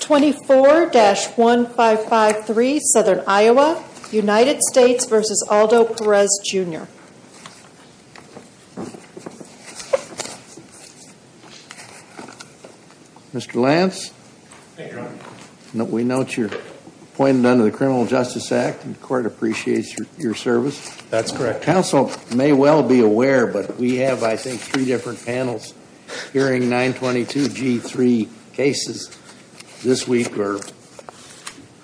24-1553 Southern Iowa, United States v. Aldo Perez, Jr. Mr. Lance, we note you're appointed under the Criminal Justice Act and the court appreciates your service. That's correct. Our counsel may well be aware, but we have, I think, three different panels hearing 922G3 cases this week or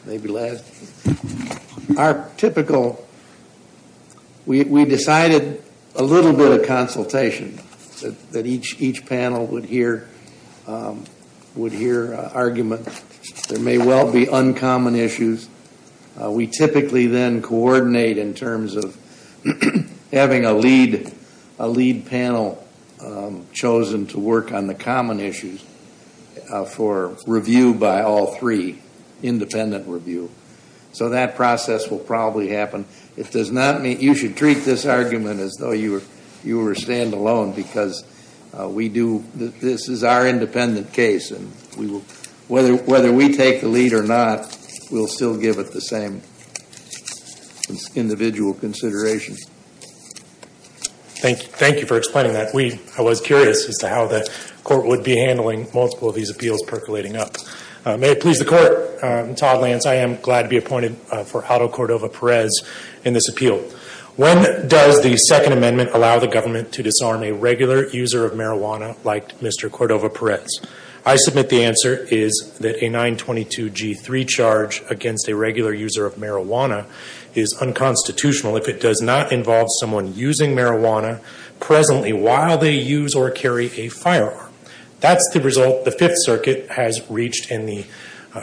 maybe last week. We decided a little bit of consultation, that each panel would hear an argument. There may well be uncommon issues. We typically then coordinate in terms of having a lead panel chosen to work on the common issues for review by all three, independent review. So that process will probably happen. It does not mean, you should treat this argument as though you were stand-alone, because we do, this is our independent case and we will, whether we take the lead or not, we'll still give it the same individual consideration. Thank you for explaining that. I was curious as to how the court would be handling multiple of these appeals percolating up. May it please the court, Todd Lance, I am glad to be appointed for Aldo Cordova Perez in this appeal. When does the Second Amendment allow the government to disarm a regular user of marijuana like Mr. Cordova Perez? I submit the answer is that a 922G3 charge against a regular user of marijuana is unconstitutional if it does not involve someone using marijuana presently while they use or carry a firearm. That's the result the Fifth Circuit has reached in the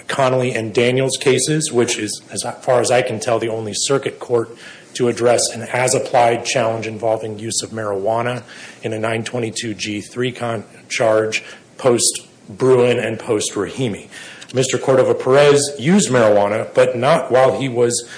Connolly and Daniels cases, which is as far as I can tell, the only circuit court to address an as-applied challenge involving use of marijuana in a 922G3 charge post-Bruin and post-Rahimi. Mr. Cordova Perez used marijuana, but not while he was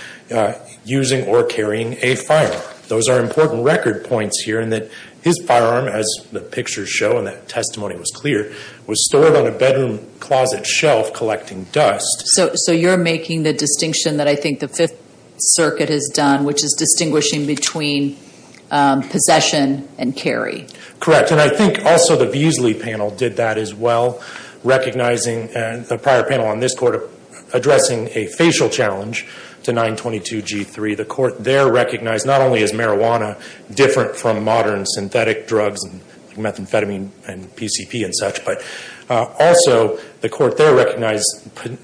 using or carrying a firearm. Those are important record points here in that his firearm, as the pictures show and that testimony was clear, was stored on a bedroom closet shelf collecting dust. So you're making the distinction that I think the Fifth Circuit has done, which is distinguishing between possession and carry. Correct. And I think also the Beasley panel did that as well, recognizing the prior panel on this court addressing a facial challenge to 922G3. The court there recognized not only is marijuana different from modern synthetic drugs, methamphetamine and PCP and such, but also the court there recognized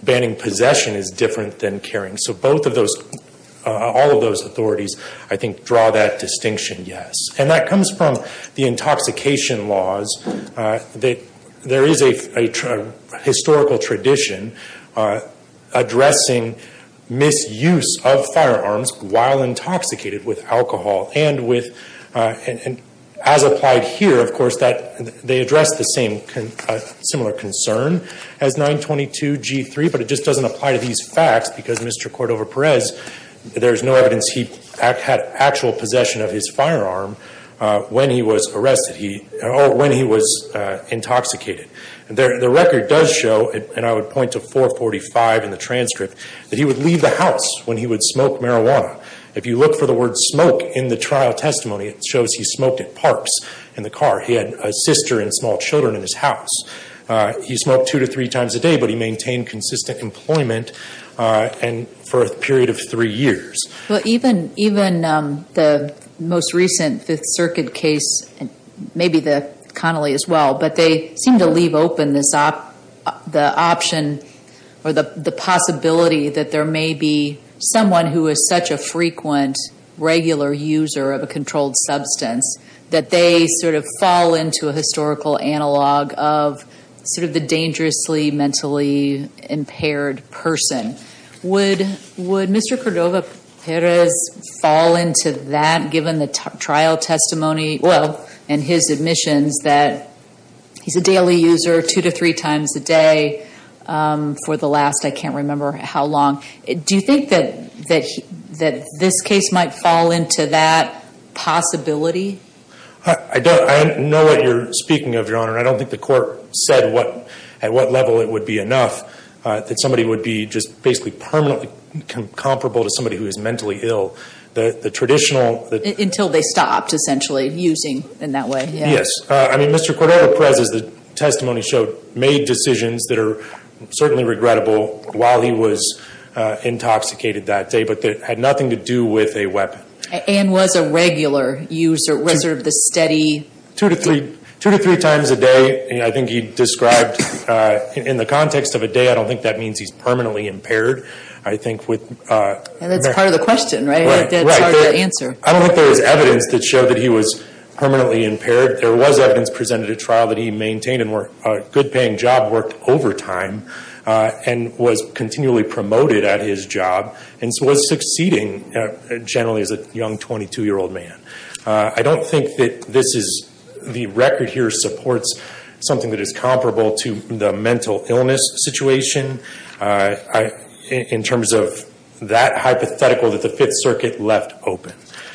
banning possession is different than carrying. So all of those authorities, I think, draw that distinction, yes. And that comes from the intoxication laws. There is a historical tradition addressing misuse of firearms while intoxicated with alcohol and as applied here, of course, they address the similar concern as 922G3, but it just doesn't apply to these facts because Mr. Cordova-Perez, there's no evidence he had actual possession of his firearm when he was arrested, when he was intoxicated. The record does show, and I would point to 445 in the transcript, that he would leave the house when he would smoke marijuana. If you look for the word smoke in the trial testimony, it shows he smoked at parks in the car. He had a sister and small children in his house. He smoked two to three times a day, but he maintained consistent employment for a period of three years. But even the most recent Fifth Circuit case, maybe Connolly as well, but they seem to leave open the option or the possibility that there may be someone who is such a frequent regular user of a controlled substance that they sort of fall into a historical analog of sort of the dangerously mentally impaired person. Would Mr. Cordova-Perez fall into that given the trial testimony, well, and his admissions that he's a daily user two to three times a day for the last, I can't remember how long. Do you think that this case might fall into that possibility? I don't know what you're speaking of, Your Honor, and I don't think the court said at what level it would be enough that somebody would be just basically permanently comparable to somebody who is mentally ill. The traditional- Until they stopped, essentially, using in that way. Yes. I mean, Mr. Cordova-Perez, as the testimony showed, made decisions that are certainly regrettable while he was intoxicated that day, but that had nothing to do with a weapon. And was a regular user, was sort of the steady- Two to three times a day, I think he described in the context of a day, I don't think that means he's permanently impaired. I think with- That's part of the question, right? I think that's part of the answer. I don't think there was evidence that showed that he was permanently impaired. There was evidence presented at trial that he maintained a good-paying job, worked overtime, and was continually promoted at his job, and was succeeding, generally, as a young 22-year-old man. I don't think that this is- The record here supports something that is comparable to the mental illness situation in terms of that hypothetical that the Fifth Circuit left open,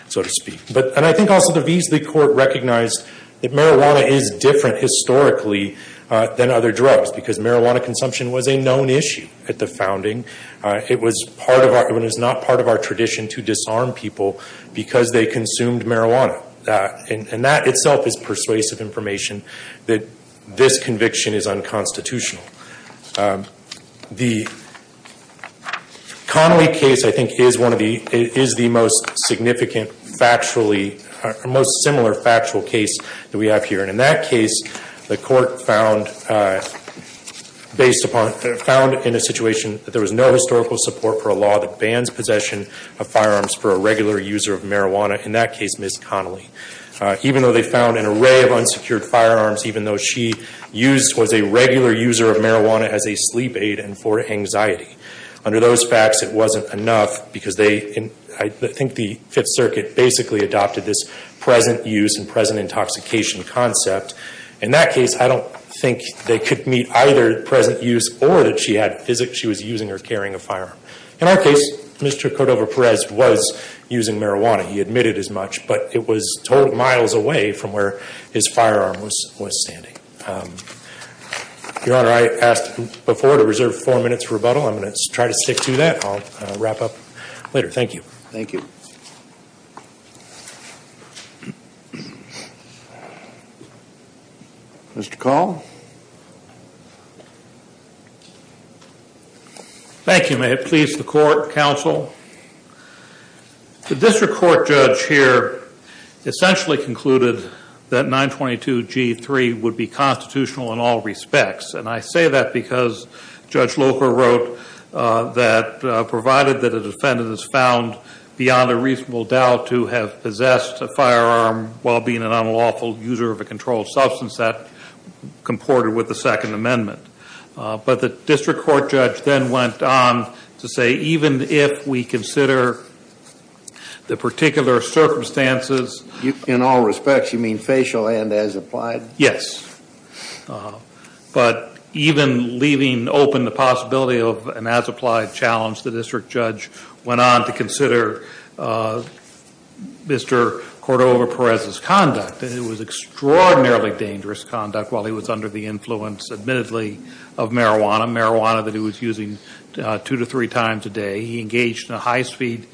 so to speak. And I think also the Veasley Court recognized that marijuana is different historically than other drugs, because marijuana consumption was a known issue at the founding. It was part of our- It was not part of our tradition to disarm people because they consumed marijuana. And that itself is persuasive information that this conviction is unconstitutional. The Connolly case, I think, is the most significant, most similar factual case that we have here. And in that case, the court found in a situation that there was no historical support for a law that bans possession of firearms for a regular user of marijuana. In that case, Ms. Connolly. Even though they found an array of unsecured firearms, even though she was a regular user of marijuana as a sleep aid and for anxiety, under those facts, it wasn't enough because they- I think the Fifth Circuit basically adopted this present use and present intoxication concept. In that case, I don't think they could meet either present use or that she was using or carrying a firearm. In our case, Mr. Cordova-Perez was using marijuana. He admitted as much, but it was miles away from where his firearm was standing. Your Honor, I asked before to reserve four minutes for rebuttal. I'm going to try to stick to that. I'll wrap up later. Thank you. Thank you. Mr. Call? Thank you. May it please the court, counsel. The district court judge here essentially concluded that 922G3 would be constitutional in all respects. I say that because Judge Loper wrote that provided that a defendant is found beyond a reasonable doubt to have possessed a firearm while being an unlawful user of a controlled substance, that comported with the Second Amendment. But the district court judge then went on to say even if we consider the particular circumstances In all respects, you mean facial and as applied? Yes. But even leaving open the possibility of an as applied challenge, the district judge went on to consider Mr. Cordova-Perez's conduct, and it was extraordinarily dangerous conduct while he was under the influence, admittedly, of marijuana. Marijuana that he was using two to three times a day. He engaged in a high speed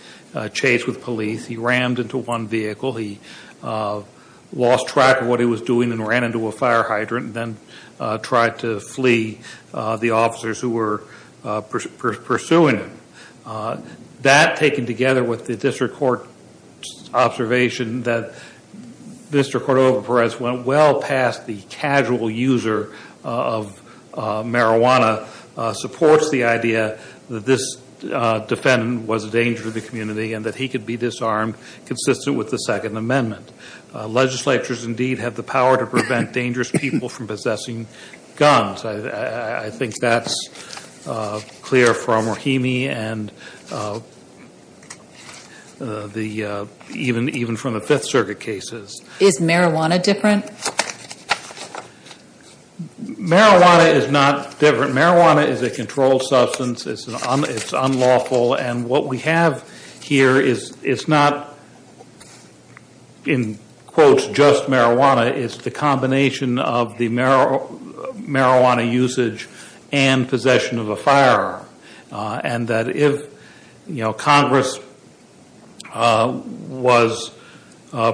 chase with police. He rammed into one vehicle. He lost track of what he was doing and ran into a fire hydrant and then tried to flee the officers who were pursuing him. That taken together with the district court observation that Mr. Cordova-Perez went well past the casual user of marijuana supports the idea that this defendant was a danger to the community and that he could be disarmed consistent with the Second Amendment. Legislatures indeed have the power to prevent dangerous people from possessing guns. I think that's clear from Rahimi and even from the Fifth Circuit cases. Is marijuana different? Marijuana is not different. Marijuana is a controlled substance. It's unlawful. And what we have here is it's not in quotes just marijuana. It's the combination of the marijuana usage and possession of a firearm. And that if Congress was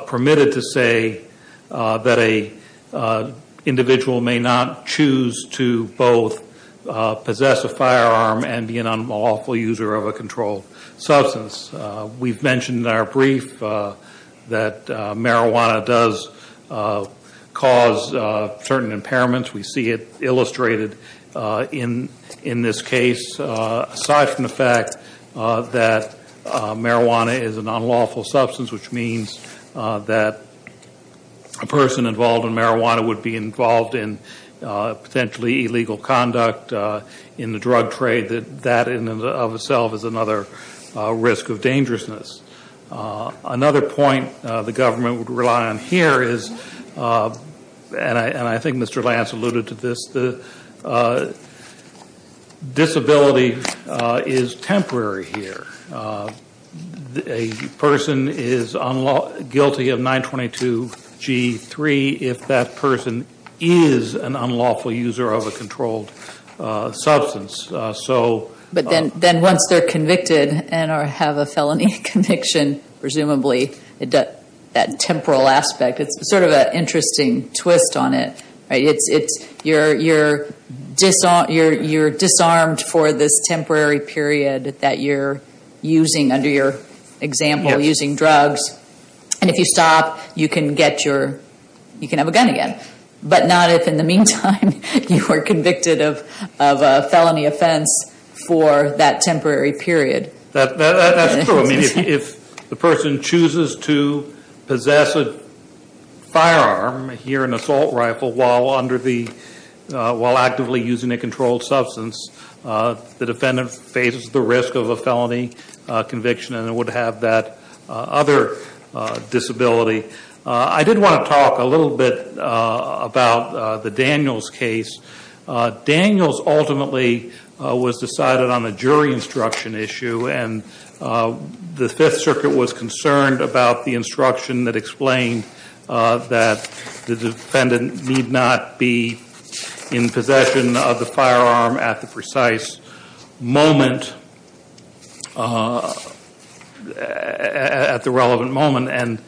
permitted to say that a individual may not choose to both possess a firearm and be an unlawful user of a controlled substance. We've mentioned in our brief that marijuana does cause certain impairments. We see it illustrated in this case. Aside from the fact that marijuana is an unlawful substance, which means that a person involved in marijuana would be involved in potentially illegal conduct in the drug trade, that in and of itself is another risk of dangerousness. Another point the government would rely on here is, and I think Mr. Lance alluded to this, the disability is temporary here. A person is guilty of 922 G3 if that person is an unlawful user of a controlled substance, so. But then once they're convicted and have a felony conviction, presumably, that temporal aspect, it's sort of an interesting twist on it, right? You're disarmed for this temporary period that you're using under your example using drugs. And if you stop, you can have a gun again. But not if in the meantime, you are convicted of a felony offense for that temporary period. That's true, I mean, if the person chooses to possess a firearm, hear an assault rifle while actively using a controlled substance, the defendant faces the risk of a felony conviction and would have that other disability. I did want to talk a little bit about the Daniels case. Daniels ultimately was decided on a jury instruction issue and the Fifth Circuit was concerned about the instruction that explained that the defendant need not be in possession of the firearm at the precise moment. At the relevant moment, and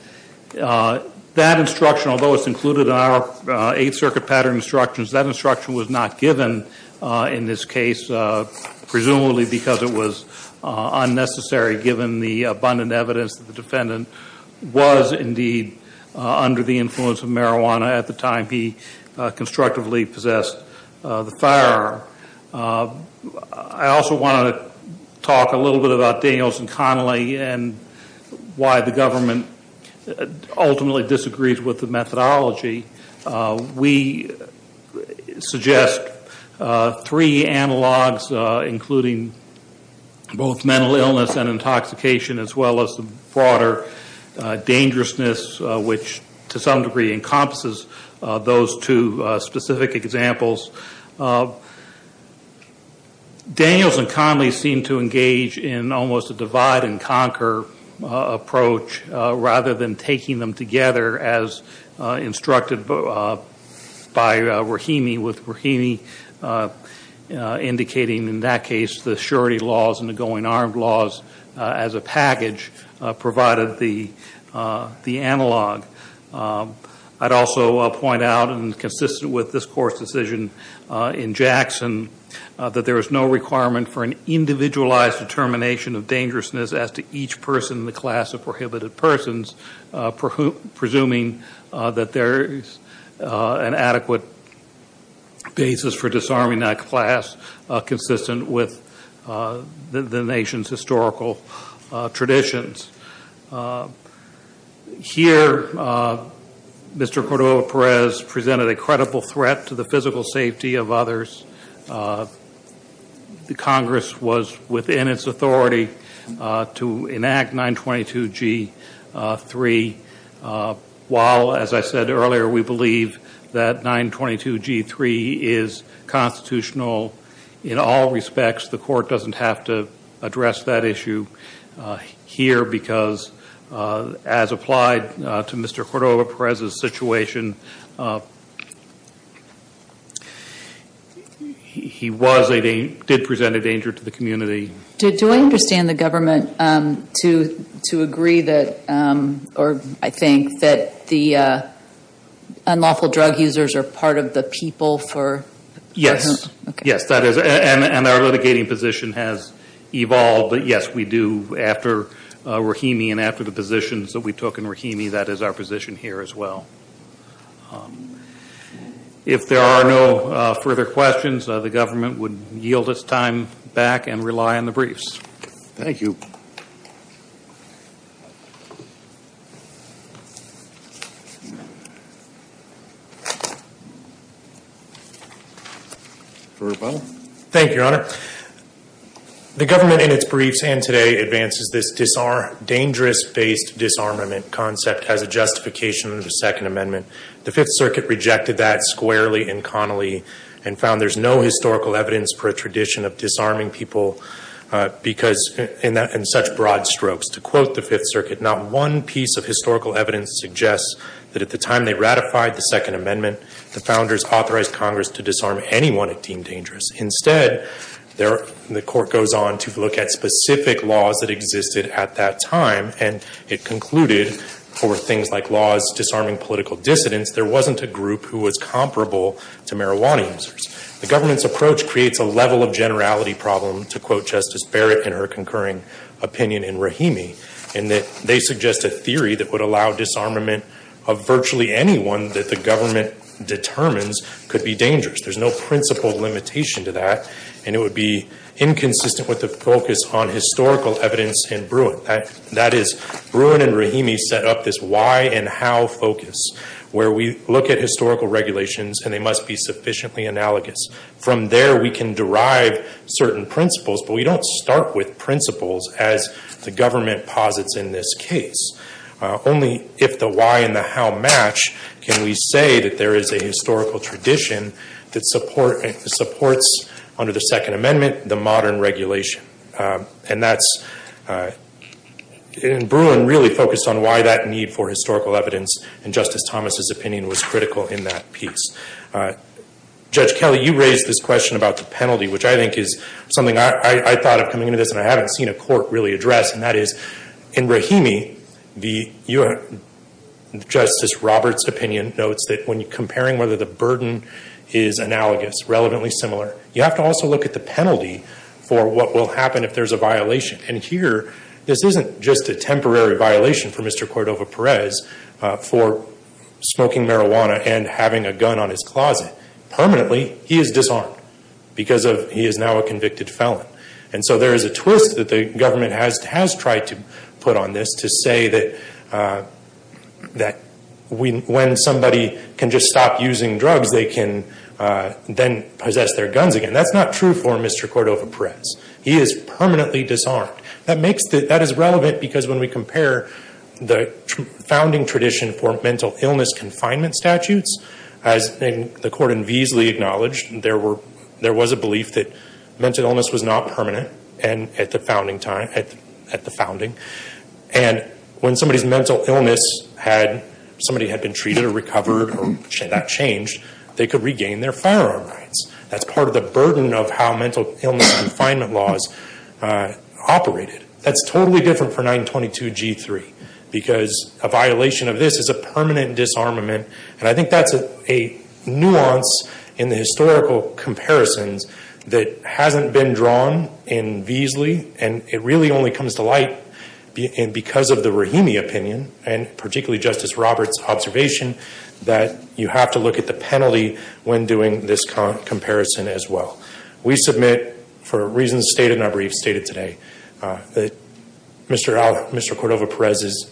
that instruction, although it's included in our Eighth Circuit pattern instructions. That instruction was not given in this case, presumably because it was unnecessary, given the abundant evidence that the defendant was, indeed, under the influence of marijuana at the time he constructively possessed the firearm. I also want to talk a little bit about Daniels and Connolly and why the government ultimately disagrees with the methodology. We suggest three analogs, including both mental illness and intoxication as well as the broader dangerousness, which to some degree encompasses those two specific examples. Daniels and Connolly seem to engage in almost a divide and conquer approach rather than taking them together as instructed by Rahimi. With Rahimi indicating, in that case, the surety laws and the going armed laws as a package provided the analog. I'd also point out, and consistent with this court's decision in Jackson, that there is no requirement for an individualized determination of dangerousness as to each person in the class of prohibited persons. Presuming that there is an adequate basis for disarming that class consistent with the nation's historical traditions. Here, Mr. Cordova-Perez presented a credible threat to the physical safety of others. The Congress was within its authority to enact 922 G3. While, as I said earlier, we believe that 922 G3 is constitutional in all respects. The court doesn't have to address that issue here because, as applied to Mr. Cordova-Perez's situation, he did present a danger to the community. Do I understand the government to agree that, or I think, that the unlawful drug users are part of the people for- Yes, yes, that is, and our litigating position has evolved, but yes, we do after Rahimi and after the positions that we took in Rahimi, that is our position here as well. If there are no further questions, the government would yield its time back and rely on the briefs. Thank you. Verbal? Thank you, Your Honor. The government in its briefs and today advances this dangerous-based disarmament concept as a justification of the Second Amendment. The Fifth Circuit rejected that squarely and conally and found there's no historical evidence for a tradition of disarming people in such broad strokes. To quote the Fifth Circuit, not one piece of historical evidence suggests that at the time they ratified the Second Amendment, the founders authorized Congress to disarm anyone it deemed dangerous. Instead, the court goes on to look at specific laws that existed at that time, and it concluded for things like laws disarming political dissidents, there wasn't a group who was comparable to marijuana users. The government's approach creates a level of generality problem, to quote Justice Barrett in her concurring opinion in Rahimi, and that they suggest a theory that would allow disarmament of virtually anyone that the government determines could be dangerous. There's no principled limitation to that, and it would be inconsistent with the focus on historical evidence in Bruin. That is, Bruin and Rahimi set up this why and how focus, where we look at historical regulations and they must be sufficiently analogous. From there, we can derive certain principles, but we don't start with principles as the government posits in this case. Only if the why and the how match can we say that there is a historical tradition that supports, under the Second Amendment, the modern regulation. And that's, in Bruin, really focused on why that need for historical evidence, and Justice Thomas' opinion was critical in that piece. Judge Kelly, you raised this question about the penalty, which I think is something I thought of coming into this, and I haven't seen a court really address, and that is, in Rahimi, Justice Roberts' opinion notes that when you're comparing whether the burden is analogous, relevantly similar, you have to also look at the penalty for what will happen if there's a violation. And here, this isn't just a temporary violation for Mr. Cordova-Perez for smoking marijuana and having a gun on his closet. Permanently, he is disarmed because he is now a convicted felon. And so there is a twist that the government has tried to put on this to say that when somebody can just stop using drugs, they can then possess their guns again. That's not true for Mr. Cordova-Perez. He is permanently disarmed. That is relevant because when we compare the founding tradition for mental illness confinement statutes, as the court enviesly acknowledged, there was a belief that mental illness was not permanent at the founding. And when somebody's mental illness had, somebody had been treated or recovered or had that changed, they could regain their firearm rights. That's part of the burden of how mental illness confinement laws operated. That's totally different for 922-G3 because a violation of this is a permanent disarmament. And I think that's a nuance in the historical comparisons that hasn't been drawn enviesly. And it really only comes to light because of the Rahimi opinion and particularly Justice Roberts' observation that you have to look at the penalty when doing this comparison as well. We submit for reasons stated in our briefs stated today, that Mr. Cordova-Perez'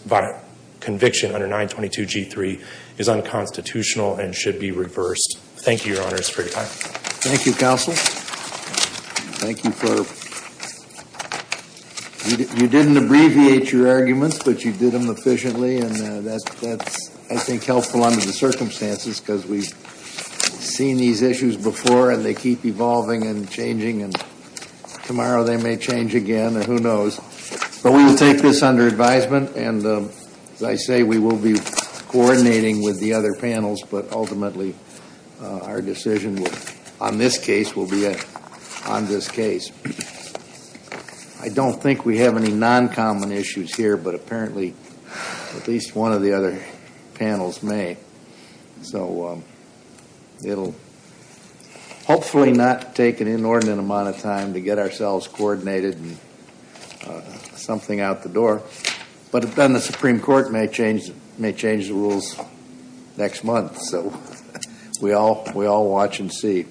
conviction under 922-G3 is unconstitutional and should be reversed. Thank you, Your Honors, for your time. Thank you, Counsel. Thank you for, you didn't abbreviate your arguments, but you did them efficiently, and that's, I think, helpful under the circumstances. Because we've seen these issues before and they keep evolving and changing. And tomorrow they may change again, and who knows. But we will take this under advisement. And as I say, we will be coordinating with the other panels. But ultimately, our decision on this case will be on this case. I don't think we have any non-common issues here, but apparently at least one of the other panels may. So it'll hopefully not take an inordinate amount of time to get ourselves coordinated. Something out the door. But then the Supreme Court may change the rules next month. So we all watch and see.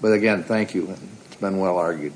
But again, thank you. It's been well argued.